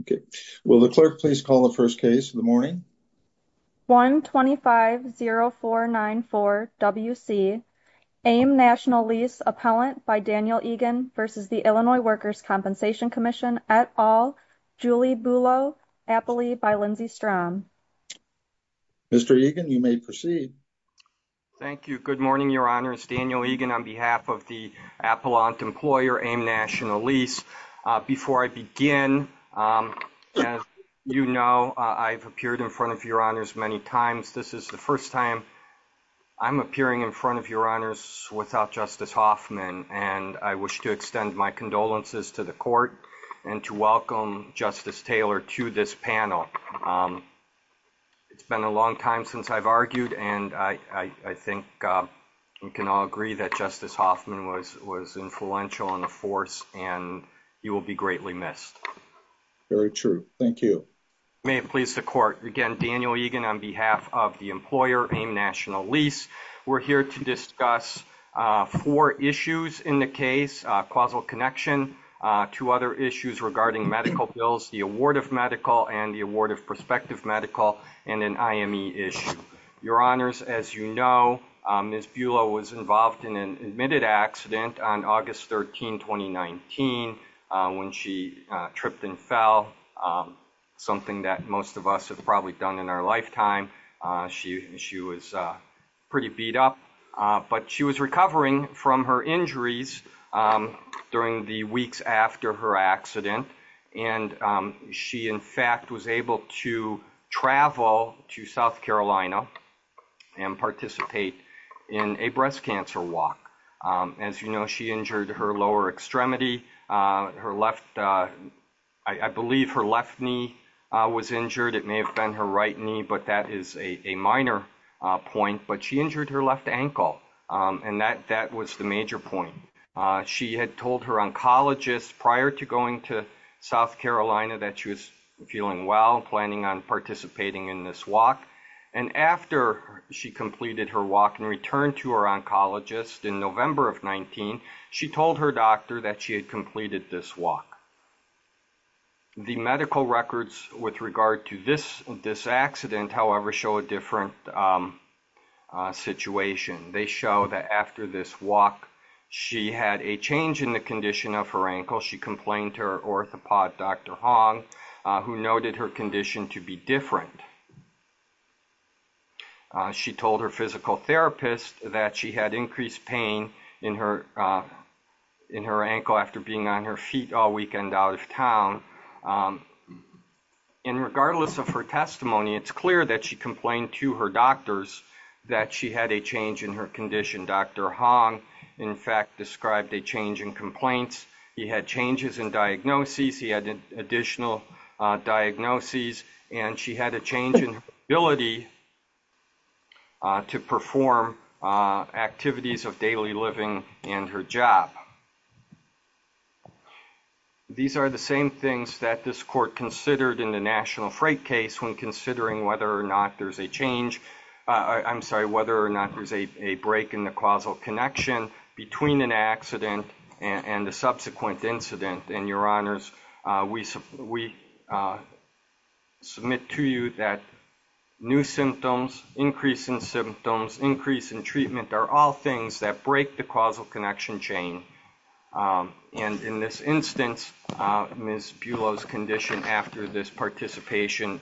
Okay, will the clerk please call the first case of the morning? 1-250-494-WC AIM National Lease Appellant by Daniel Egan v. Illinois Workers' Compensation Comm'n et al., Julie Bulow, Appalachia by Lindsey Strom. Mr. Egan, you may proceed. Thank you. Good morning, Your Honors. Daniel Egan on behalf of the Appalachian Employer, AIM National Lease. Before I begin, as you know, I've appeared in front of Your Honors many times. This is the first time I'm appearing in front of Your Honors without Justice Hoffman, and I wish to extend my condolences to the Court and to welcome Justice Taylor to this panel. It's been a long time since I've argued, and I think you can all agree that Justice Hoffman was influential and a force, and he will be greatly missed. Very true. Thank you. May it please the Court, again, Daniel Egan on behalf of the Employer, AIM National Lease. We're here to discuss four issues in the case, causal connection, two other issues regarding medical bills, the award of medical and the award of prospective medical, and an IME issue. Your Honors, as you know, Ms. Bulow was involved in an admitted accident on August 13, 2019, when she tripped and fell, something that most of us have probably done in our lifetime. She was pretty beat up, but she was recovering from her injuries during the weeks after her accident, and she, in fact, was able to travel to South Carolina and participate in a breast cancer walk. As you know, she injured her lower extremity, her left, I believe her left knee was injured. It may have been her right knee, but that is a minor point, but she injured her left ankle, and that was the point. She had told her oncologist prior to going to South Carolina that she was feeling well, planning on participating in this walk, and after she completed her walk and returned to her oncologist in November of 19, she told her doctor that she had completed this walk. The medical records with regard to this accident, however, show a different situation. They show that after this walk, she had a change in the condition of her ankle. She complained to her orthopod, Dr. Hong, who noted her condition to be different. She told her physical therapist that she had increased pain in her ankle after being on her feet all weekend out of town, and regardless of her testimony, it's clear that she complained to her doctors that she had a change in her condition. Dr. Hong, in fact, described a change in complaints. He had changes in diagnoses. He had additional diagnoses, and she had a change in her ability to perform activities of daily living and her job. Now, these are the same things that this court considered in the national freight case when considering whether or not there's a change, I'm sorry, whether or not there's a break in the causal connection between an accident and the subsequent incident, and your honors, we submit to you that new symptoms, increase in symptoms, increase in treatment are all things that break the causal connection chain, and in this instance, Ms. Bulow's condition after this participation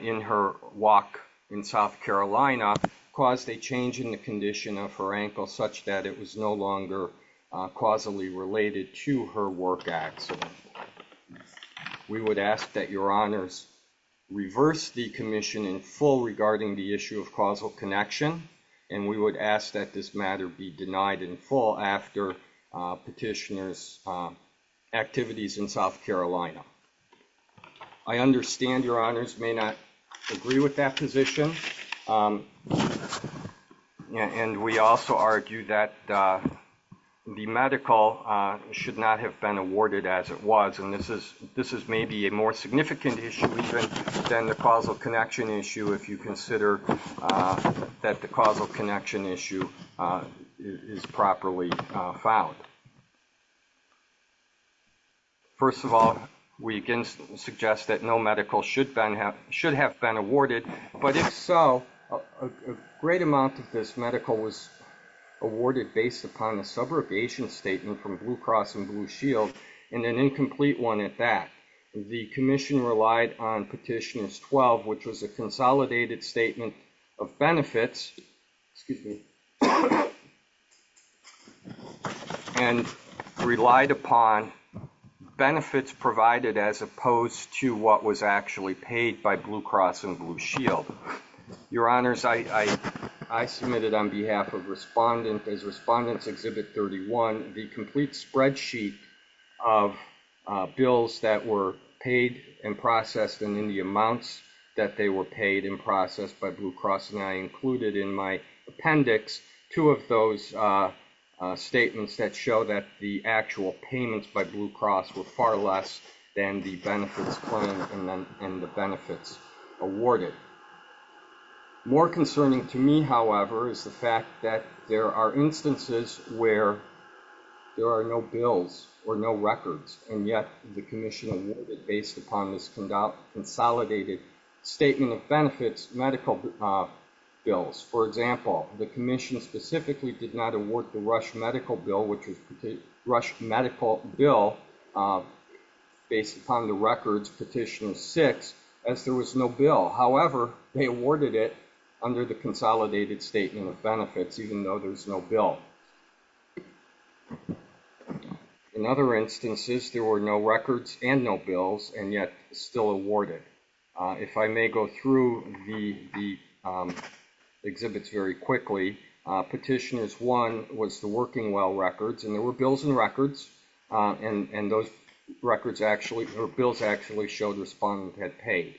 in her walk in South Carolina caused a change in the condition of her ankle such that it was no longer causally related to her work accident. We would ask that your honors reverse the commission in full regarding the issue of causal connection, and we would ask that this matter be denied in full after petitioner's activities in South Carolina. I understand your honors may not agree with that position, and we also argue that the medical should not have been awarded as it was, and this is maybe a more significant issue than the causal connection issue if you consider that the causal connection issue is properly found. First of all, we again suggest that no medical should have been awarded, but if so, a great amount of this medical was awarded based upon a subrogation statement from Blue Cross and Blue Shield, and an incomplete one at that. The commission relied on petitioner's 12, which was a consolidated statement of benefits, excuse me, and relied upon benefits provided as opposed to what was actually paid by Blue Cross and Blue Shield. Your honors, I submitted on behalf of respondents, as respondents exhibit 31, the complete spreadsheet of bills that were paid and processed and in the amounts that they were paid and processed by Blue Cross, and I included in my appendix two of those statements that show that the actual payments by Blue Cross were far less than the benefits claimed and the benefits awarded. More concerning to me, however, is the fact that there are instances where there are no bills or no records, and yet the commission based upon this consolidated statement of benefits medical bills. For example, the commission specifically did not award the Rush medical bill, which was Rush medical bill based upon the records petitioner's six, as there was no bill. However, they awarded it under the consolidated statement of benefits, even though there's no bill. In other instances, there were no records and no bills, and yet still awarded. If I may go through the exhibits very quickly, petitioner's one was the working well records, and there were bills and records, and those records actually, or bills actually showed respondents had paid.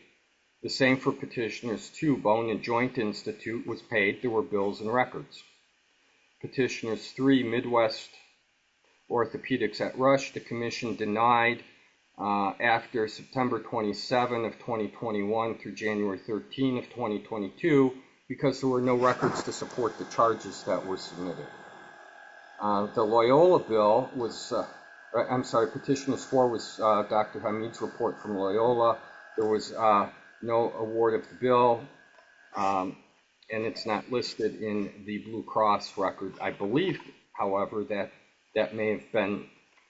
The same for petitioner's two, Bone and Joint Institute was paid. There were bills and records. Petitioner's three, Midwest Orthopedics at Rush, the commission denied after September 27 of 2021 through January 13 of 2022 because there were no records to support the charges that were submitted. The Loyola bill was, I'm sorry, petitioner's four was Dr. Hameed's report from Loyola. There was no award of the bill, and it's not listed in the Blue Cross record. I believe, however, that that may have been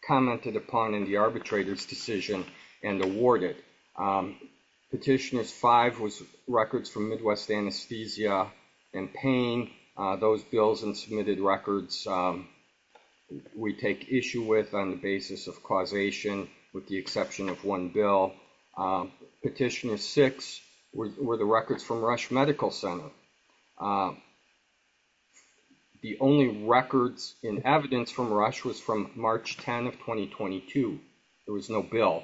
commented upon in the arbitrator's decision and awarded. Petitioner's five was records from Midwest Anesthesia and Pain. Those bills and submitted records we take issue with on the basis of causation with the exception of one bill. Petitioner's six were the records from Rush Medical Center. The only records in evidence from Rush was from March 10 of 2022. There was no bill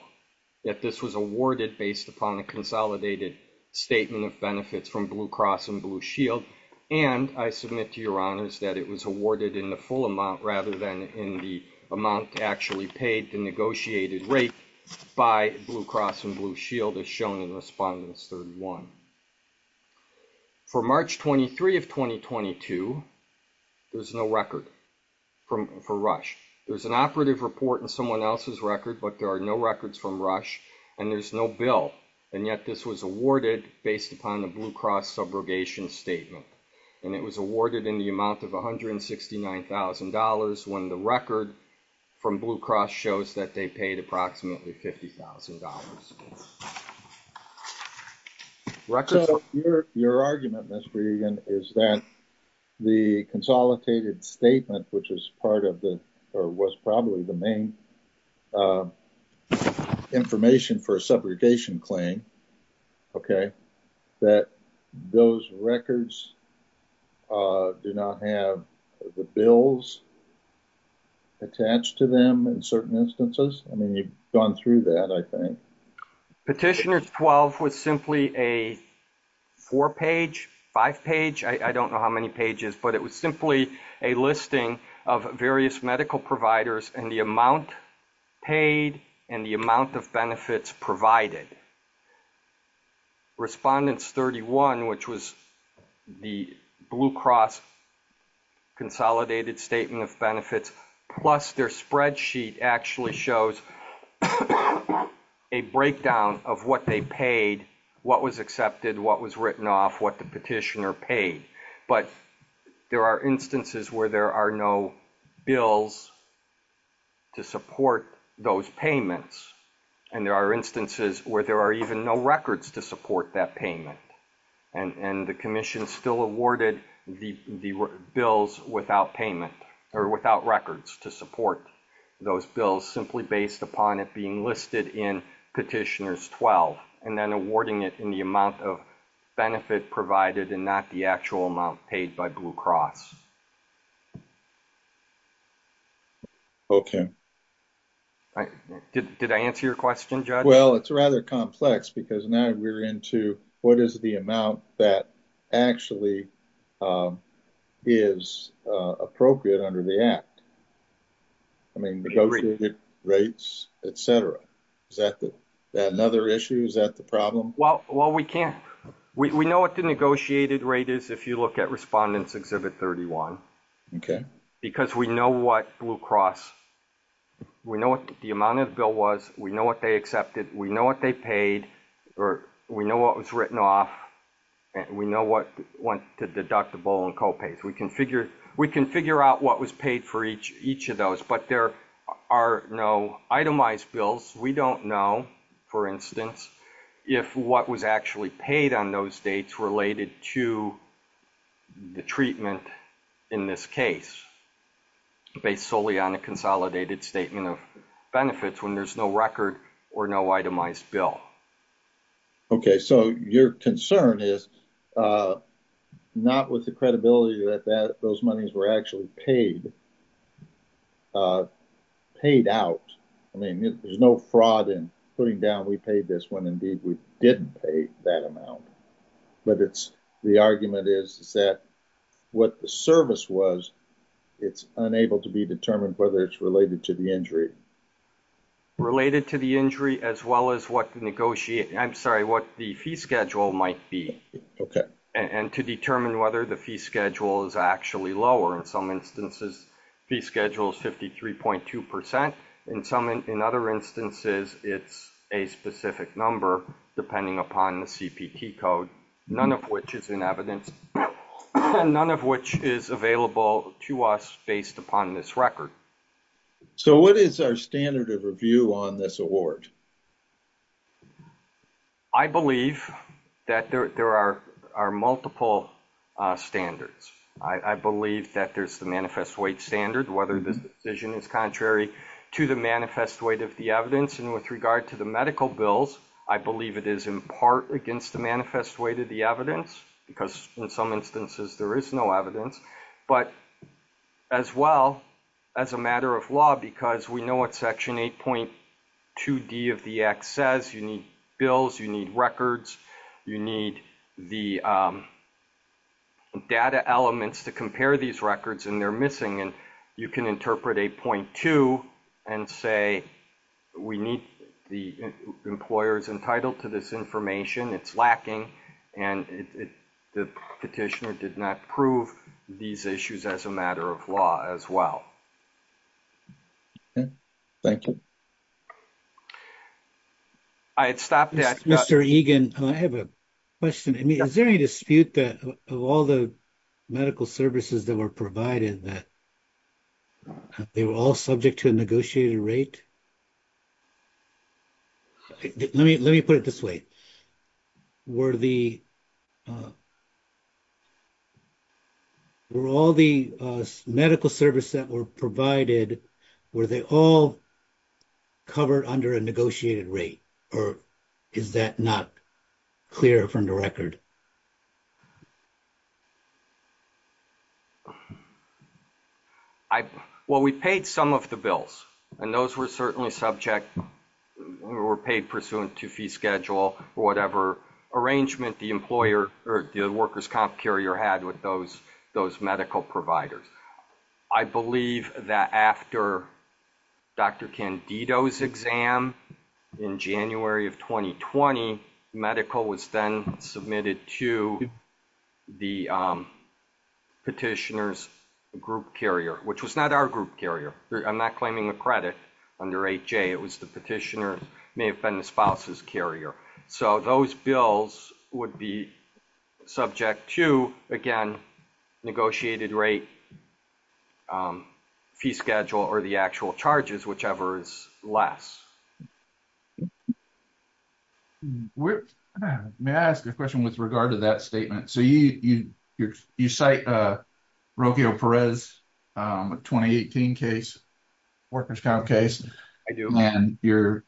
that this was awarded based upon a consolidated statement of benefits from Blue Cross and Blue Shield, and I submit to your honors that it was awarded in the full amount rather than in the amount actually paid, the negotiated rate by Blue Cross and Blue Shield as shown in Respondents 31. For March 23 of 2022, there's no record for Rush. There's an operative report in someone else's record, but there are no records from Rush, and there's no bill, and yet this was awarded based upon the Blue Cross subrogation statement, and it was awarded in the amount of $169,000 when the record from Blue Cross shows that they paid approximately $50,000. Your argument, Mr. Egan, is that the consolidated statement, which was probably the main information for a subrogation claim, okay, that those records do not have the bills attached to them in certain instances? I mean, you've gone through that, I think. Petitioner's 12 was simply a four-page, five-page, I don't know how many pages, but it was simply a listing of various medical providers and the amount paid and the amount of benefits provided. Respondents 31, which was the Blue Cross consolidated statement of benefits, plus their spreadsheet actually shows a breakdown of what they paid, what was accepted, what was written off, what the petitioner paid, but there are instances where there are no bills to support those payments, and there are instances where there are even no records to support that payment, and the Commission still awarded the bills without payment or without records to support those bills simply based upon it being listed in Petitioner's 12 and then awarding it in the benefit provided and not the actual amount paid by Blue Cross. Okay. Did I answer your question, Judge? Well, it's rather complex because now we're into what is the amount that actually is appropriate under the Act? I mean, negotiated rates, etc. Is that another issue? Is that the problem? Well, we can't. We know what the negotiated rate is if you look at Respondents Exhibit 31. Okay. Because we know what Blue Cross, we know what the amount of the bill was, we know what they accepted, we know what they paid, or we know what was written off, and we know what went to deductible and copays. We can figure out what was paid for each of those, but there are no itemized bills. We don't know, for instance, if what was actually paid on those dates related to the treatment in this case based solely on a consolidated statement of benefits when there's no record or no itemized bill. Okay. So, your concern is not with the credibility that those monies were actually paid out. I mean, there's no fraud in putting down we paid this when indeed we didn't pay that amount. But the argument is that what the service was, it's unable to be determined whether it's related to the injury. Related to the injury as well as what the fee schedule might be. Okay. And to determine whether the fee schedule is actually lower. In some instances, fee schedule is 53.2%. In other instances, it's a specific number depending upon the CPT code, none of which is in evidence, and none of which is available to us based upon this record. So, what is our standard of review on this award? I believe that there are multiple standards. I believe that there's the manifest weight standard, whether this decision is contrary to the manifest weight of the evidence. And with regard to the medical bills, I believe it is in part against the manifest weight of the evidence because in instances there is no evidence. But as well, as a matter of law, because we know what section 8.2D of the Act says, you need bills, you need records, you need the data elements to compare these records and they're missing. And you can interpret 8.2 and say, we need the employers entitled to this information, it's lacking, and the petitioner did not prove these issues as a matter of law as well. Okay. Thank you. I'd stop there. Mr. Egan, I have a question. I mean, is there any dispute that of all the medical services that were provided that they were all subject to a negotiated rate? Let me put it this way. Were all the medical services that were provided, were they all covered under a negotiated rate? Or is that not clear from the record? I, well, we paid some of the bills and those were certainly subject or paid pursuant to fee schedule or whatever arrangement the employer or the workers comp carrier had with those medical providers. I believe that after Dr. Candido's exam in January of 2020, medical was then submitted to the petitioner's group carrier, which was not our group carrier. I'm not claiming the credit under 8J, it was the petitioner's, may have been the spouse's carrier. So those bills would be subject to, again, negotiated rate, fee schedule, or the actual charges, whichever is less. May I ask a question with regard to that statement? So you cite Rocio Perez, a 2018 case, workers comp case. I do. And your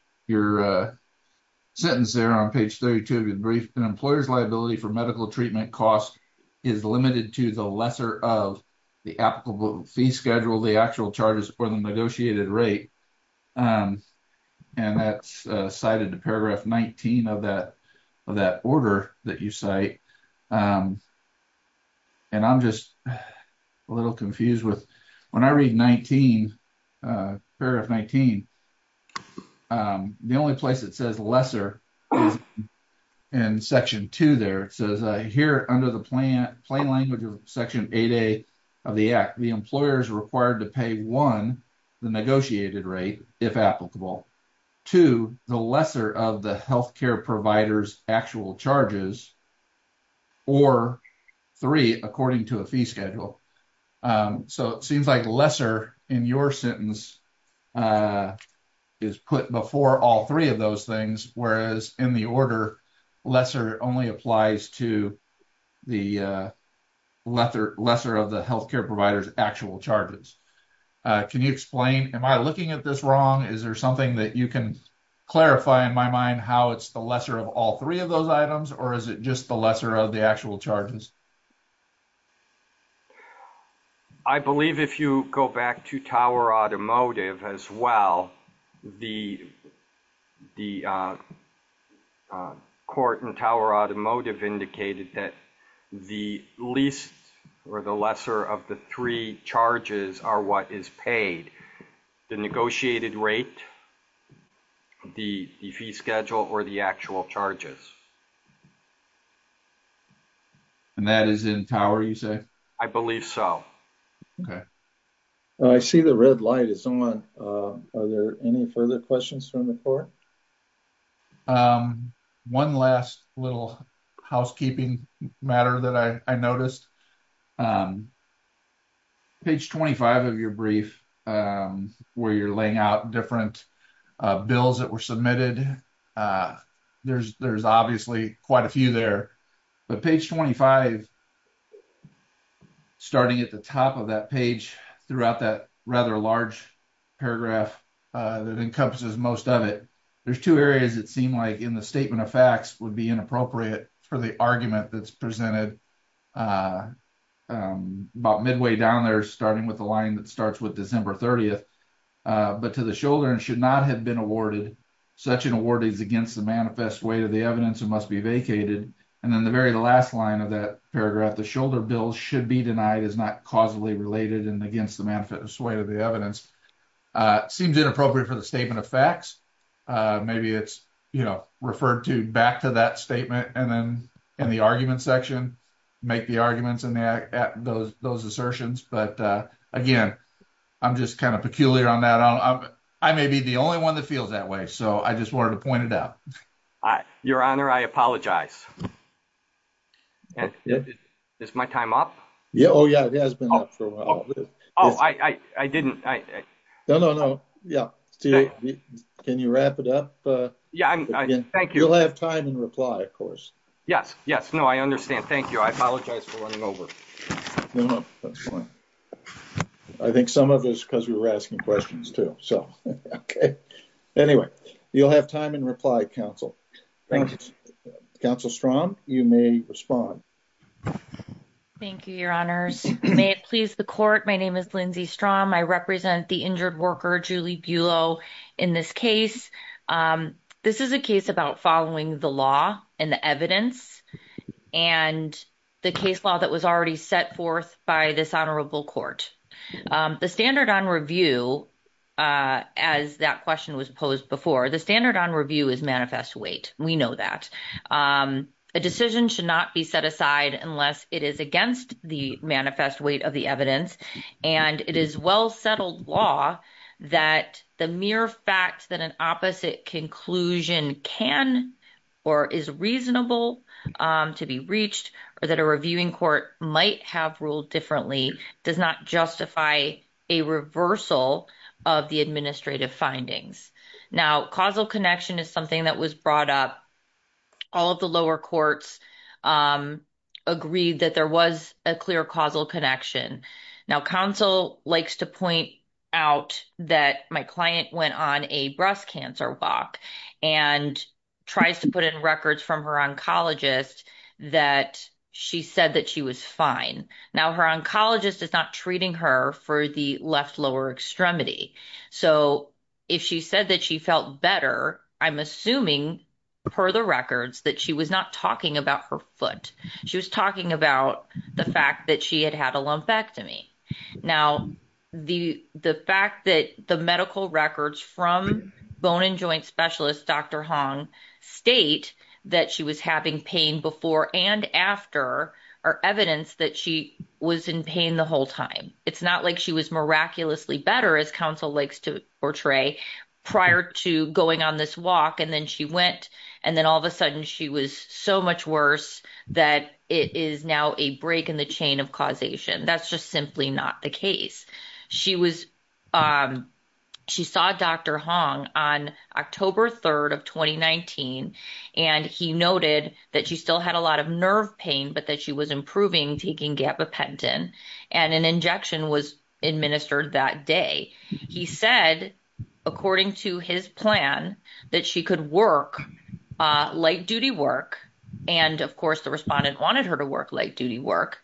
sentence there on page 32 of your brief, an employer's liability for medical treatment cost is limited to the lesser of the applicable fee schedule, the actual charges, or the negotiated rate. And that's cited to paragraph 19 of that order that you cite. And I'm just a little confused with, when I read 19, paragraph 19, the only place that says lesser is in section 2 there. It says here under the plain language of section 8A of the Act, the employer is required to pay, one, the negotiated rate, if applicable. Two, the lesser of the health care provider's actual charges, or three, according to a fee schedule. So it seems like lesser in your sentence is put before all three of those things, whereas in the order, lesser only applies to the lesser of the health care provider's actual charges. Can you explain, am I looking at this wrong? Is there something that you can clarify in my mind how it's the lesser of all three of those items, or is it just the lesser of the actual charges? I believe if you go back to Tower Automotive as well, the court in Tower Automotive indicated that the least or the lesser of the three charges are what is paid, the negotiated rate, the fee schedule, or the actual charge. Are there any further questions from the court? One last housekeeping matter that I noticed. Page 25 of your brief, where you're laying out different bills that were submitted, there's obviously quite a few there, but page 25, starting at the top of that page, throughout that rather large paragraph that encompasses most of it, there's two areas that seem like in the statement of facts would be inappropriate for the argument that's presented about midway down there, starting with the line that starts with December 30th, but to the shoulder and should not have been awarded, such an award is against the manifest weight of the evidence and must be vacated, and then the very last line of that paragraph, the shoulder bill should be denied as not causally related and against the manifest weight of the evidence, seems inappropriate for the statement of facts. Maybe it's referred to back to that statement and then in the argument section, make the arguments and those assertions, but again, I'm just kind of peculiar on that. I may be the only one that feels that way, so I just wanted to point it out. Your honor, I apologize. Is my time up? Yeah, oh yeah, it has been up for a while. Oh, I didn't. No, no, no, yeah, can you wrap it up? Yeah, thank you. You'll have time and reply, of course. Yes, yes, no, I understand. Thank you. I apologize for running over. No, no, that's fine. I think some of this because we were asking questions too, so okay. Anyway, you'll have time and reply, counsel. Thank you. Counsel Strom, you may respond. Thank you, your honors. May it please the court, my name is Lindsay Strom. I represent the injured worker, Julie Buelow, in this case. This is a case about following the law and the evidence and the case law that was already set forth by this honorable court. The standard on review, as that question was posed before, the standard on review is manifest weight. We know that a decision should not be set aside unless it is against the manifest weight of the evidence, and it is well settled law that the mere fact that an opposite conclusion can or is reasonable to be reached or that a reviewing court might have ruled differently does not justify a reversal of the administrative findings. Now, causal connection is something that was brought up. All of the lower courts agreed that there was a clear causal connection. Now, counsel likes to point out that my client went on a breast cancer walk and tries to put in records from her oncologist that she said that she was fine. Now, her oncologist is not treating her for the left lower extremity. So, if she said that she felt better, I'm assuming per the records that she was not talking about her foot. She was talking about the fact that she had had a lumpectomy. Now, the fact that the medical records from bone and joint specialist, Dr. Hong, state that she was having pain before and after are evidence that she was in pain the whole time. It's not like she was miraculously better, as counsel likes to portray, prior to going on this walk and then she went and then all of a sudden she was so much worse that it is now a break in the chain of causation. That's just simply not the case. She saw Dr. Hong on October 3rd of 2019 and he noted that she still had a lot of nerve pain, but that she was improving taking gabapentin and an injection was administered that day. He said, according to his plan, that she could work light duty work and of course the respondent wanted her to work light duty work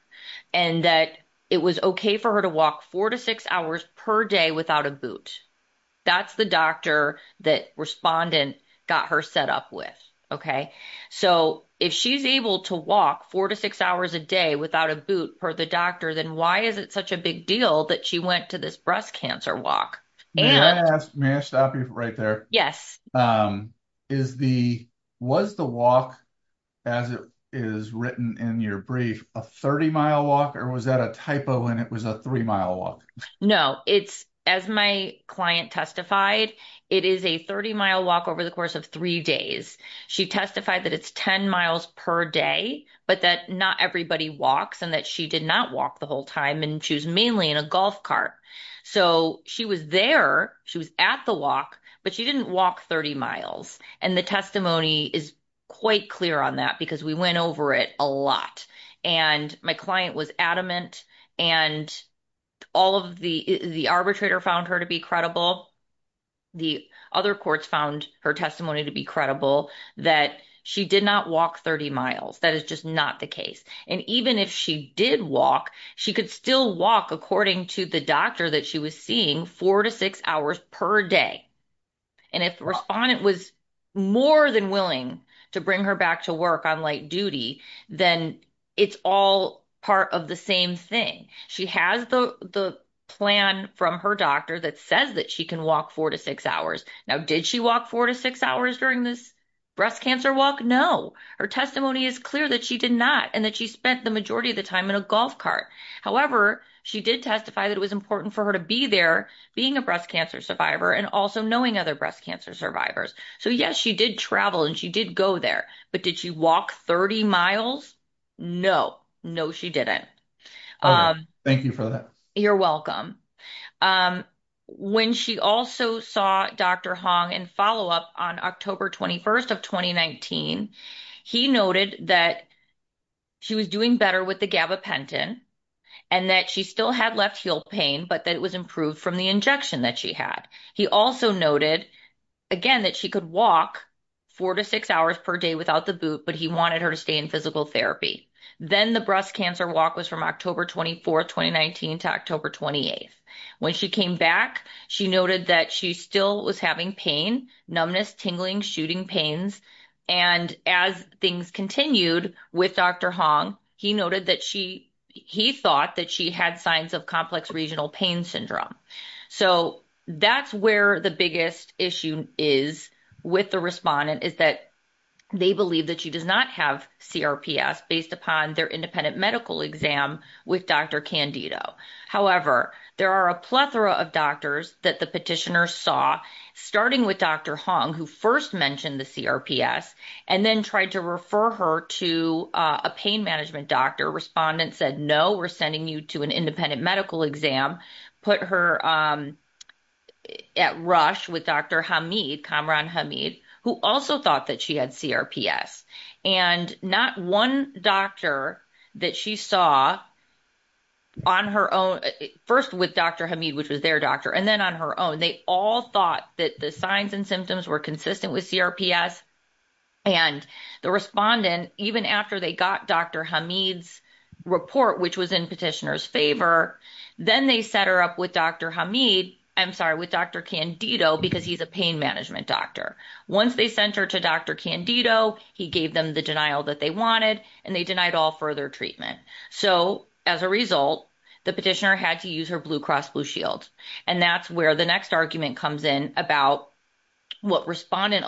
and that it was okay for her to walk four to six hours per day without a boot. That's the doctor that respondent got her set up with. If she's able to walk four to six hours a day without a boot per the doctor, then why is it such a big deal that she went to this breast cancer walk? May I stop you right there? Yes. Was the walk, as it is written in your brief, a 30-mile walk or was that a typo and it was a 30-mile walk? No. As my client testified, it is a 30-mile walk over the course of three days. She testified that it's 10 miles per day, but that not everybody walks and that she did not walk the whole time and she was mainly in a golf cart. She was there, she was at the walk, but she didn't walk 30 miles. The testimony is quite clear on that because we went over it a lot and my client was adamant and the arbitrator found her to be credible. The other courts found her testimony to be credible that she did not walk 30 miles. That is just not the case. Even if she did walk, she could still walk according to the doctor that she was seeing four to six hours per day. If the respondent was more than willing to bring her back to work on duty, then it's all part of the same thing. She has the plan from her doctor that says that she can walk four to six hours. Now, did she walk four to six hours during this breast cancer walk? No. Her testimony is clear that she did not and that she spent the majority of the time in a golf cart. However, she did testify that it was important for her to be there, being a breast cancer survivor and also knowing other breast cancer survivors. Yes, she did travel and she did go there, but did she walk 30 miles? No. No, she didn't. Thank you for that. You're welcome. When she also saw Dr. Hong in follow-up on October 21st of 2019, he noted that she was doing better with the gabapentin and that she still had left heel pain, but that it was improved from the she had. He also noted, again, that she could walk four to six hours per day without the boot, but he wanted her to stay in physical therapy. Then the breast cancer walk was from October 24th, 2019 to October 28th. When she came back, she noted that she still was having pain, numbness, tingling, shooting pains. As things continued with Dr. Hong, he thought that she had signs of complex regional pain syndrome. That's where the biggest issue is with the respondent is that they believe that she does not have CRPS based upon their independent medical exam with Dr. Candido. However, there are a plethora of doctors that the petitioner saw, starting with Dr. Hong, who first mentioned the CRPS and then tried to refer her to a pain management doctor. Respondent said, no, we're sending you to an independent medical exam, put her at rush with Dr. Hameed, Kamran Hameed, who also thought that she had CRPS. Not one doctor that she saw on her own, first with Dr. Hameed, which was their doctor, and then on her own, they all thought that the signs and symptoms were consistent with CRPS. And the respondent, even after they got Dr. Hameed's report, which was in petitioner's favor, then they set her up with Dr. Hameed, I'm sorry, with Dr. Candido, because he's a pain management doctor. Once they sent her to Dr. Candido, he gave them the denial that they wanted, and they denied all further treatment. So as a result, the petitioner had to use her Blue Cross Blue Shield. And that's where the next argument comes in about what respondent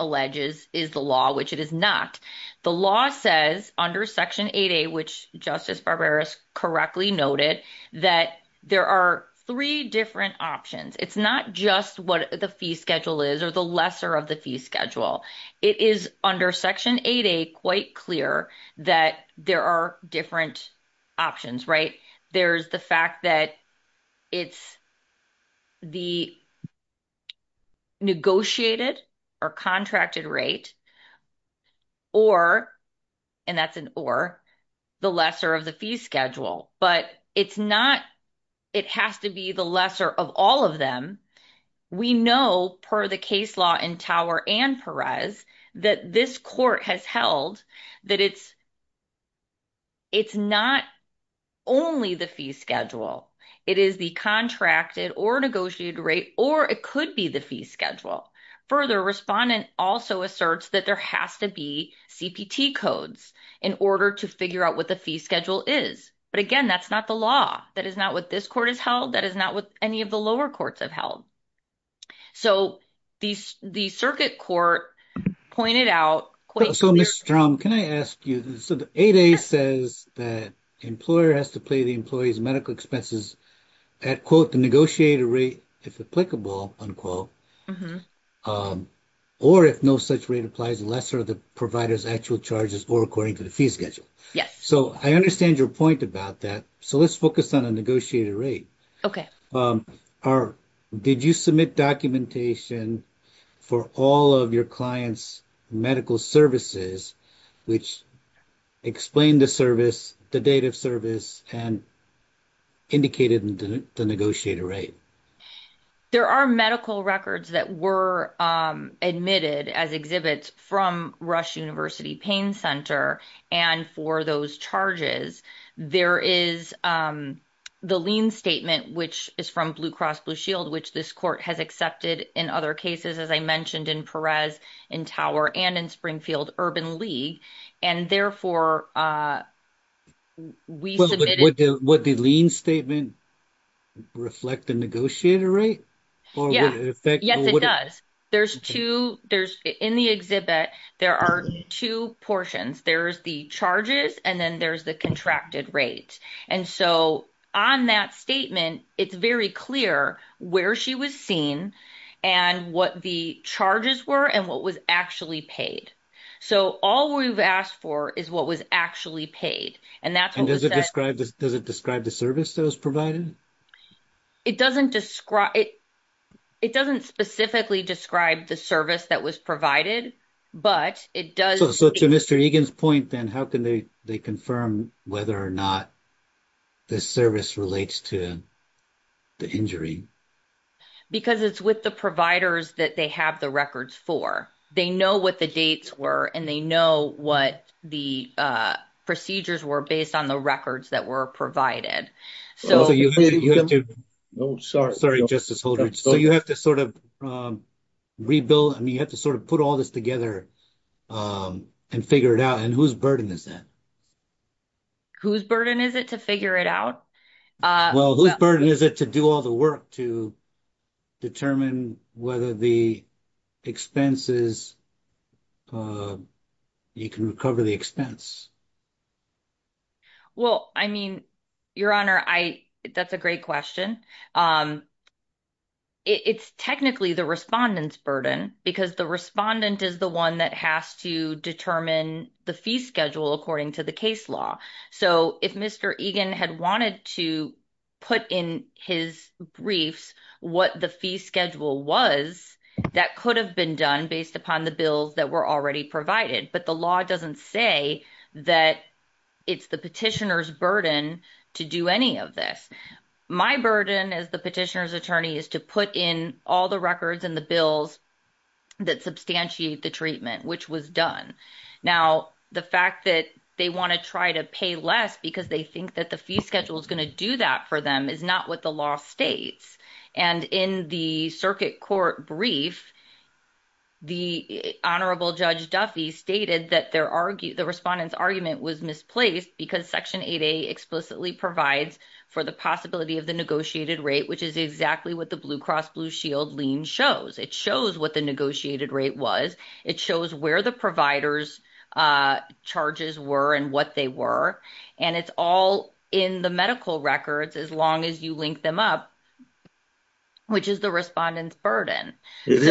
is the law, which it is not. The law says under Section 8A, which Justice Barberos correctly noted, that there are three different options. It's not just what the fee schedule is or the lesser of the fee schedule. It is under Section 8A quite clear that there are different options. There's the fact that it's the negotiated or contracted rate, or, and that's an or, the lesser of the fee schedule. But it's not, it has to be the lesser of all of them. We know per the case law in Tower and Perez, that this court has held that it's not only the fee schedule. It is the contracted or negotiated rate, or it could be the fee schedule. Further, respondent also asserts that there has to be CPT codes in order to figure out what the fee schedule is. But again, that's not the law. That is not what this court has held. That is not what any of the lower courts have held. So the circuit court pointed out quite- I understand your point about that. So let's focus on a negotiated rate. Did you submit documentation for all of your clients' medical services, which explained the service, the date of service, and indicated the negotiated rate? There are medical records that were admitted as exhibits from Rush University Pain Center. And for those charges, there is the lien statement, which is from Blue Cross Blue Shield, which this court has accepted in other cases, as I mentioned in Perez, in Tower, and in Springfield Urban League. And therefore, we submitted- Would the lien statement reflect the negotiated rate? Yeah. Yes, it does. In the exhibit, there are two portions. There's the charges, and then there's the contracted rate. And so on that statement, it's very clear where she was seen and what the charges were and what was actually paid. So all we've asked for is what was actually paid. And that's what was said- And does it describe the service that was provided? It doesn't describe- It doesn't specifically describe the service that was provided, but it does- So to Mr. Egan's point, then, how can they confirm whether or not the service relates to the injury? Because it's with the providers that they have the records for. They know what the dates were, and they know what the procedures were based on the records that were provided. So you have to- Sorry, Justice Holdridge. So you have to sort of rebuild- I mean, you have to sort of put all this together and figure it out. And whose burden is that? Whose burden is it to figure it out? Well, whose burden is it to do all the work to determine whether the expenses- you can recover the expense? Well, I mean, Your Honor, that's a great question. It's technically the respondent's burden, because the respondent is the one that has to determine the fee schedule according to the case law. So if Mr. Egan had wanted to put in his briefs what the fee schedule was, that could have been done based upon the bills that were already provided. But the law doesn't say that it's the petitioner's burden to do any of this. My burden as the petitioner's attorney is to put in all the records and the bills that substantiate the treatment, which was done. Now, the fact that they want to try to pay less because they think that the fee schedule is going to do that for them is not what the law states. And in the circuit court brief, the Honorable Judge Duffy stated that the respondent's argument was misplaced because Section 8A explicitly provides for the possibility of the negotiated rate, which is exactly what the Blue Cross Blue Shield lien shows. It shows what the negotiated rate was. It shows where the provider's charges were and what they were. And it's all in the medical records as long as you link them up, which is the respondent's burden. It's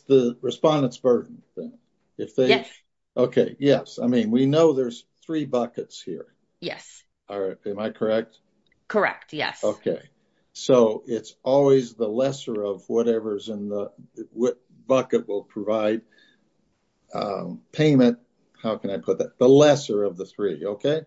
the respondent's burden. Yes. Okay. Yes. I mean, we know there's three buckets here. Yes. Am I correct? Correct. Yes. Okay. So it's always the lesser of whatever's in the bucket will provide payment. How can I put that? The lesser of the three. Okay.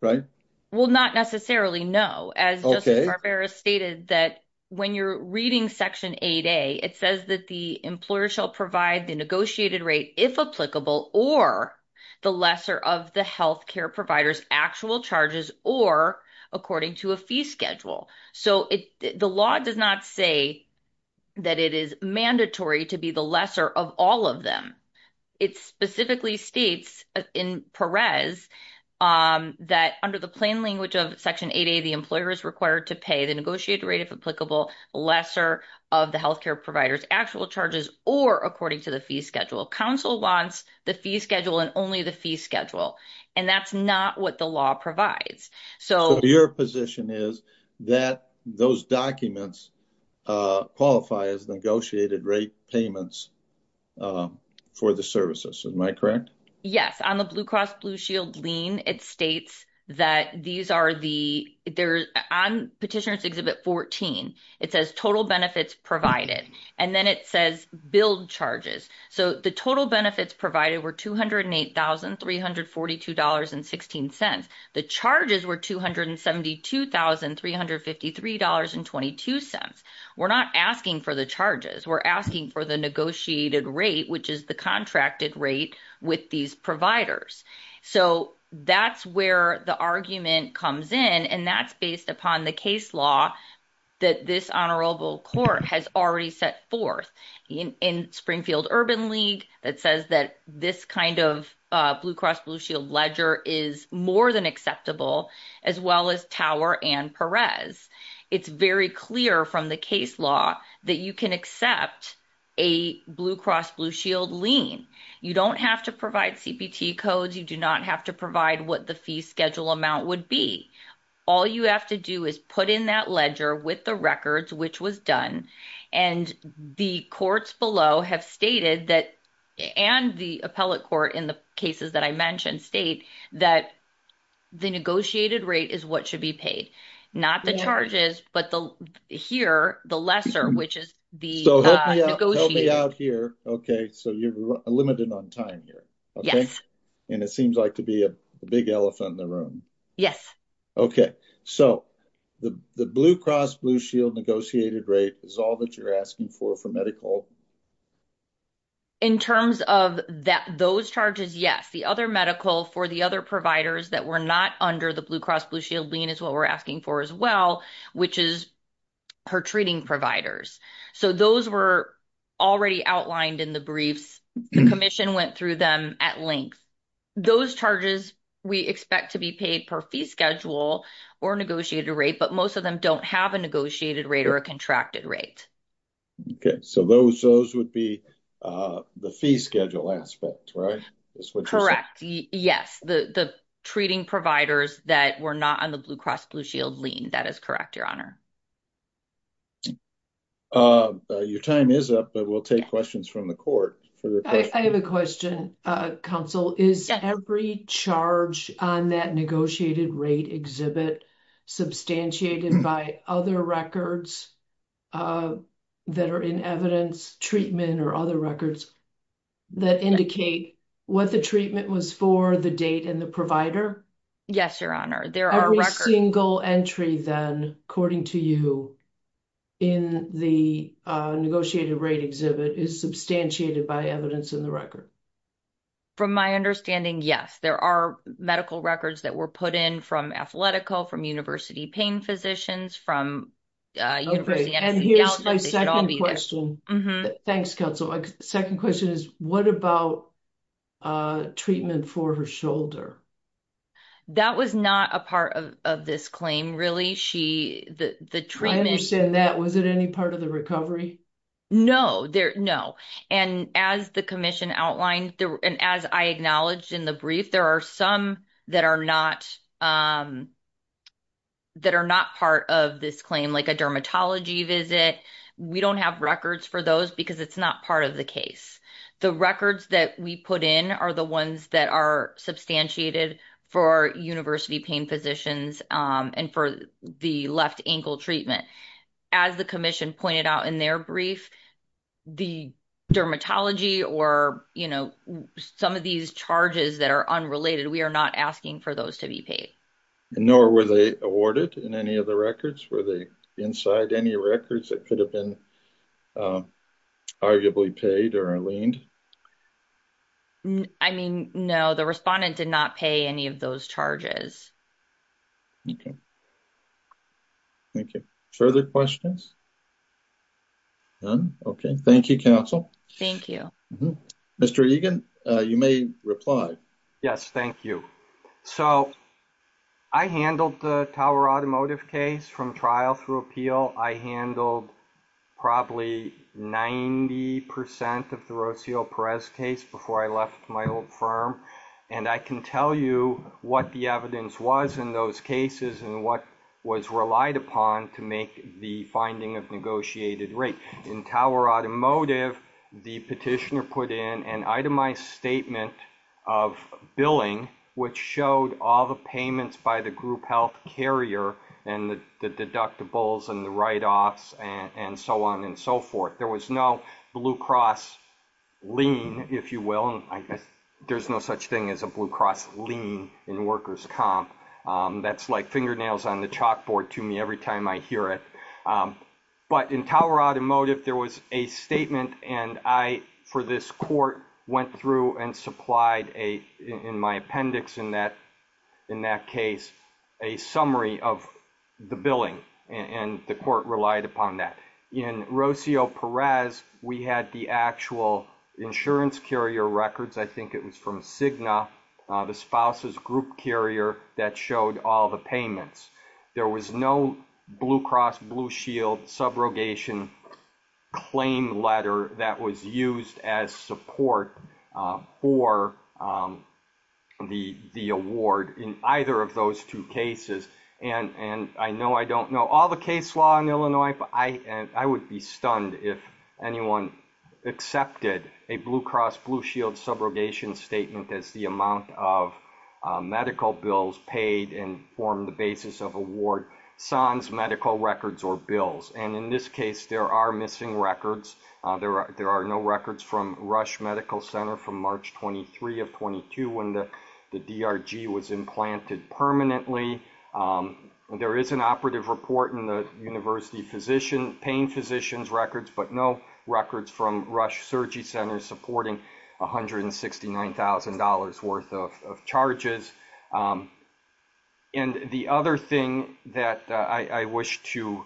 Right. Well, not necessarily. No. As Justice Barbera stated that when you're reading Section 8A, it says that the employer shall provide the negotiated rate if applicable or the lesser of the health care provider's actual charges or according to a fee schedule. So the law does not say that it is mandatory to be the lesser of all of them. It specifically states in Perez that under the plain language of Section 8A, the employer is required to pay the negotiated rate if applicable, lesser of the health care provider's actual charges or according to the schedule. Counsel wants the fee schedule and only the fee schedule. And that's not what the law provides. So your position is that those documents qualify as negotiated rate payments for the services. Am I correct? Yes. On the Blue Cross Blue Shield lien, it states that these are the there on Petitioner's Exhibit 14. It says total benefits provided. And then it says build charges. So the total benefits provided were $208,342.16. The charges were $272,353.22. We're not asking for the charges. We're asking for the negotiated rate, which is the contracted rate with these providers. So that's where the argument comes in. And that's based upon the case law that this honorable court has already set forth in Springfield Urban League that says that this kind of Blue Cross Blue Shield ledger is more than acceptable, as well as Tower and Perez. It's very clear from the case law that you can accept a Blue Cross Blue Shield lien. You don't have to provide CPT codes. You do not have to provide what the fee schedule amount would be. All you have to do is put in that ledger with the records, which was done. And the courts below have stated that and the appellate court in the cases that I mentioned state that the negotiated rate is what should be paid, not the charges, but the here, the lesser, which is the negotiated. So help me out here. Okay. So you're limited on time here. Yes. And it seems like to be a big elephant in the room. Yes. Okay. So the Blue Cross Blue Shield negotiated rate is all that you're asking for for medical. In terms of that, those charges, yes. The other medical for the other providers that were not under the Blue Cross Blue Shield lien is what we're asking for as well, which is her treating providers. So those were already outlined in the briefs. The commission went through them at length. Those charges we expect to be paid per fee schedule or negotiated rate, but most of them don't have a negotiated rate or a contracted rate. Okay. So those, those would be the fee schedule aspect, right? Correct. Yes. The, the treating providers that were not on the Blue Cross Blue Shield lien. That is correct. Your honor. Your time is up, but we'll take questions from the court. I have a question. Counsel is every charge on that negotiated rate exhibit substantiated by other records that are in evidence treatment or other records that indicate what the treatment was for the date and the provider. Yes, your honor. Every single entry then, according to you in the negotiated rate exhibit is substantiated by evidence in the record. From my understanding. Yes, there are medical records that were put in from athletico from university pain physicians from. Thanks counsel. Second question is what about. Treatment for her shoulder. That was not a part of this claim. Really? She, the treatment that was it any part of the recovery? No, there no. And as the commission outlined, and as I acknowledged in the brief, there are some that are not. That are not part of this claim, like a dermatology visit. We don't have records for those because it's not part of the case. The records that we put in are the ones that are substantiated for university pain physicians and for the left ankle treatment. As the commission pointed out in their brief. The dermatology or, you know, some of these charges that are unrelated, we are not asking for those to be paid. Nor were they awarded in any of the records where they inside any records that could have been. Arguably paid or leaned. I mean, no, the respondent did not pay any of those charges. Thank you. Thank you. Further questions. OK, thank you, counsel. Thank you, Mr. Egan. You may reply. Yes, thank you. So. I handled the tower automotive case from trial through appeal. I handled. Probably 90% of the Rocio Perez case before I left my old firm. And I can tell you what the evidence was in those cases and what was relied upon to make the finding of negotiated rate in tower automotive. The petitioner put in an itemized statement of billing, which showed all the payments by the group health carrier and the deductibles and the write offs and so on and so forth. There was no blue cross lean, if you will, and I guess there's no such thing as a blue cross lean in workers comp. That's like fingernails on the chalkboard to me every time I hear it. But in tower automotive, there was a statement and I for this court went through and supplied a in my appendix in that in that case, a summary of the billing and the court relied upon that in Rocio Perez. We had the actual insurance carrier records. I think it was from Cigna, the spouses group carrier that showed all the payments. There was no blue cross blue shield subrogation claim letter that was used as support for the the award in either of those two cases. And and I know I don't know all the case law in Illinois, but I and I would be stunned if anyone accepted a blue cross blue shield subrogation statement as the amount of medical bills paid and form the basis of award sans medical records or bills. And in this case, there are missing records. There are there are no records from Rush Medical Center from March 23 of when the DRG was implanted permanently. There is an operative report in the university physician pain physicians records, but no records from Rush Surgery Center supporting one hundred and sixty nine thousand dollars worth of charges. And the other thing that I wish to.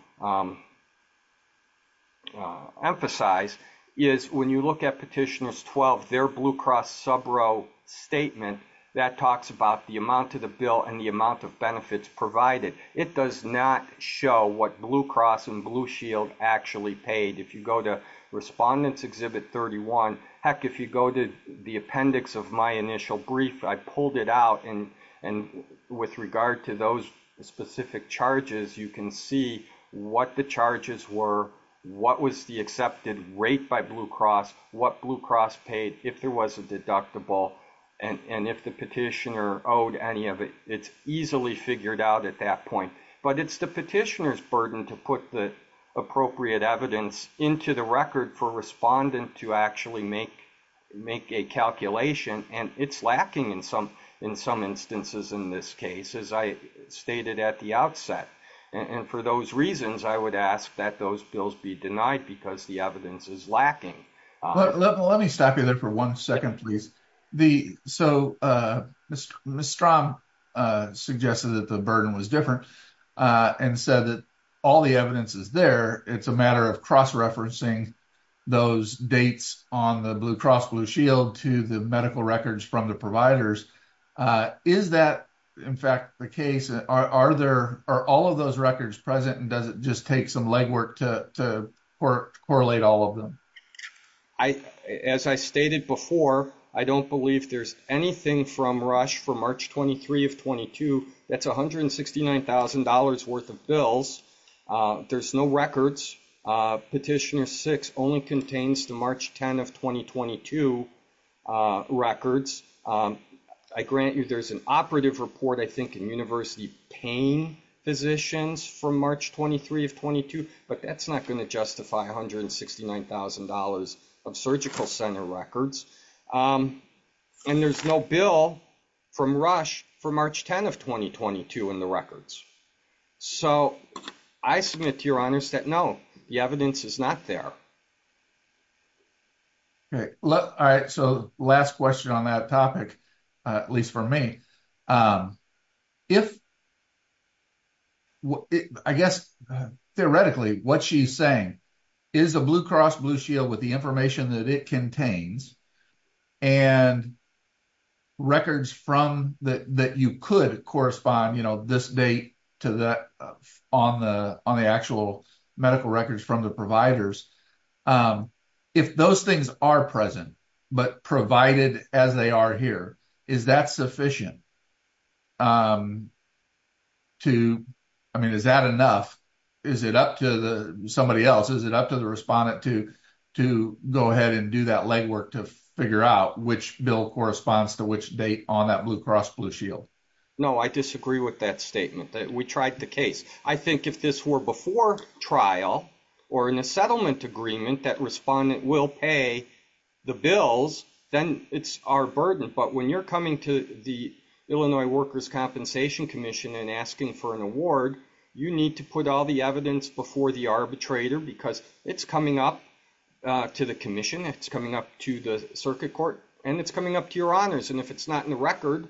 Emphasize is when you look at petitioners, 12, their blue cross subro statement that talks about the amount of the bill and the amount of benefits provided, it does not show what blue cross and blue shield actually paid. If you go to respondents exhibit thirty one. Heck, if you go to the appendix of my initial brief, I pulled it out and and with regard to those specific charges, you can see what the charges were, what was the accepted rate by Blue Cross, what Blue Cross paid if there was a deductible. And if the petitioner owed any of it, it's easily figured out at that point. But it's the petitioner's burden to put the appropriate evidence into the record for respondent to actually make make a calculation. And it's lacking in some in some instances in this case, as I stated at the outset. And for those reasons, I would ask that those bills be denied because the evidence is lacking. Let me stop you there for one second, please. The so Mr. Strahm suggested that the burden was different and said that all the evidence is there. It's a matter of cross referencing those dates on the Blue Cross Blue Shield to the medical records from the providers. Is that in fact the case? Are there are all of those records present and does it just take some legwork to to correlate all of them? I as I stated before, I don't believe there's anything from Rush for March twenty three of twenty two. That's one hundred sixty nine thousand dollars worth of bills. There's no records. Petitioner six only contains the March 10 of twenty twenty two records. I grant you there's an operative report, I think, in university pain physicians from March twenty three of twenty two. But that's not going to justify one hundred and sixty nine thousand dollars of surgical center records. And there's no bill from Rush for March 10 of twenty twenty two in the records. So I submit to your honors that no, the evidence is not there. All right. So last question on that topic, at least for me, if. I guess theoretically what she's saying is a Blue Cross Blue Shield with the information that it contains and. Records from that that you could correspond this date to that on the on the actual medical records from the providers, if those things are present, but provided as they are here, is that sufficient? To I mean, is that enough? Is it up to somebody else? Is it up to the respondent to to go ahead and do that legwork to figure out which bill corresponds to which date on that Blue Cross Blue Shield? No, I disagree with that statement that we tried the I think if this were before trial or in a settlement agreement that respondent will pay the bills, then it's our burden. But when you're coming to the Illinois Workers' Compensation Commission and asking for an award, you need to put all the evidence before the arbitrator because it's coming up to the commission. It's coming up to the circuit court and it's coming up to your honors. And if it's not in the record,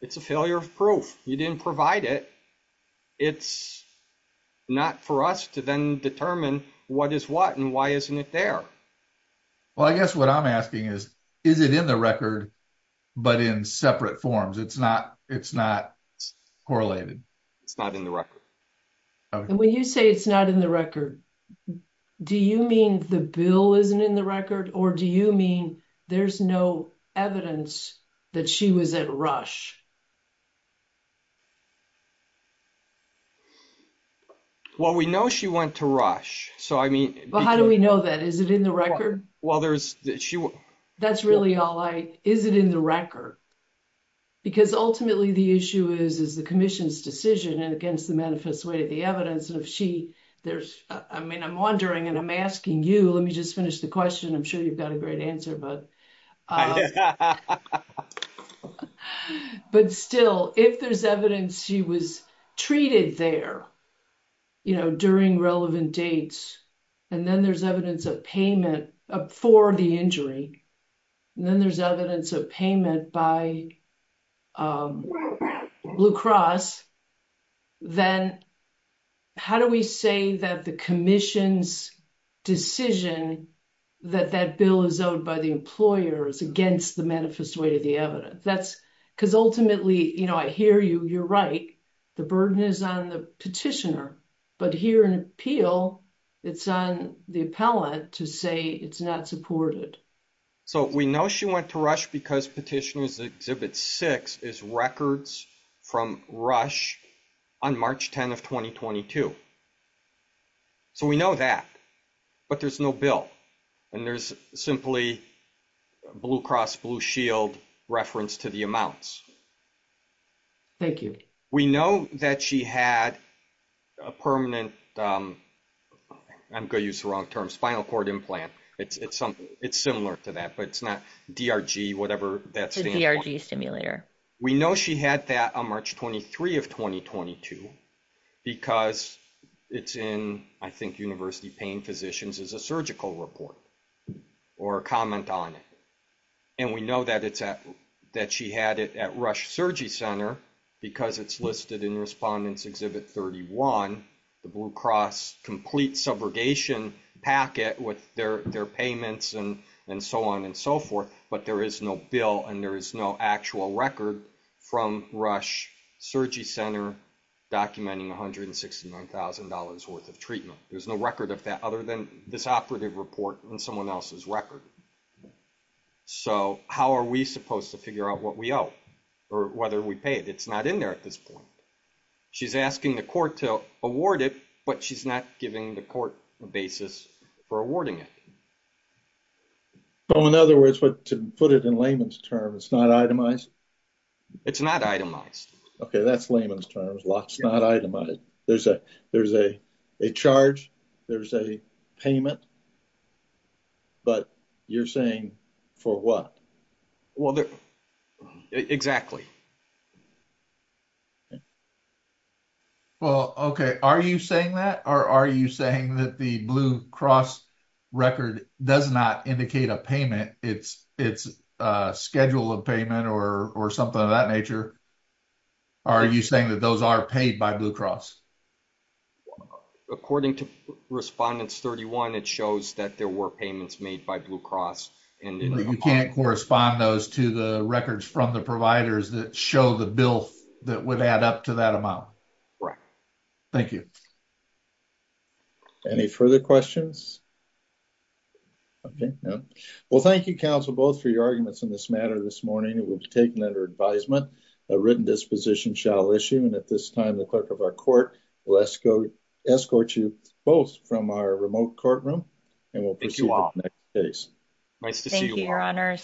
it's a failure of you didn't provide it. It's not for us to then determine what is what and why isn't it there. Well, I guess what I'm asking is, is it in the record, but in separate forms? It's not. It's not correlated. It's not in the record. And when you say it's not in the record, do you mean the bill isn't in the record? Or do you mean there's no evidence that she was at rush? Well, we know she went to rush. So, I mean. Well, how do we know that? Is it in the record? Well, there's she. That's really all I. Is it in the record? Because ultimately, the issue is, is the commission's decision and against the manifest way of the evidence. And if she there's I mean, I'm wondering and I'm asking you, let me just finish the question. I'm sure you've got a great answer, but. But still, if there's evidence she was treated there, you know, during relevant dates, and then there's evidence of payment for the injury. And then there's evidence of payment by Blue Cross. Then how do we say that the commission's decision that that bill is owed by the employers against the manifest way of the evidence? That's because ultimately, you know, I hear you. You're right. The burden is on the petitioner. But here in appeal, it's on the appellate to say it's not supported. So we know she went to rush because petitioners exhibit six is records from rush on March 10th of 2022. So we know that. But there's no bill. And there's simply Blue Cross Blue Shield reference to the amounts. Thank you. We know that she had a permanent. I'm going to use the wrong term spinal cord implant. It's it's it's similar to that, but it's not D.R.G. whatever that's the stimulator. We know she had that on March 23 of 2022 because it's in, I think, university pain physicians as a surgical report or comment on it. And we know that it's that she had it at Rush Surgery Center because it's listed in respondents exhibit 31, the Blue Cross complete subrogation packet with their payments and and so on and so forth. But there is no bill and there is no actual record from Rush Surgery Center documenting one hundred and sixty nine thousand dollars worth of treatment. There's no record of that other than this operative report and someone else's record. So how are we supposed to figure out what we owe or whether we pay it? It's not in there at this point. She's asking the court to award it, but she's not giving the court a basis for awarding it. So, in other words, to put it in layman's terms, it's not itemized. It's not itemized. OK, that's layman's terms. It's not itemized. There's a there's a charge. There's a payment. But you're saying for what? Well, exactly. Well, OK, are you saying that or are you saying that the Blue Cross record does not indicate a payment? It's it's a schedule of payment or or something of that nature. Are you saying that those are paid by Blue Cross? According to respondents, 31, it shows that there were payments made by Blue Cross and you can't correspond those to the records from the providers that show the bill that would add up to that amount. Right. Thank you. Any further questions? OK, well, thank you, counsel, both for your arguments in this matter this morning. It will be taken under advisement. A written disposition shall issue. And at this time, the clerk of our court will escort you both from our remote courtroom and we'll proceed. Nice to see you, Your Honor.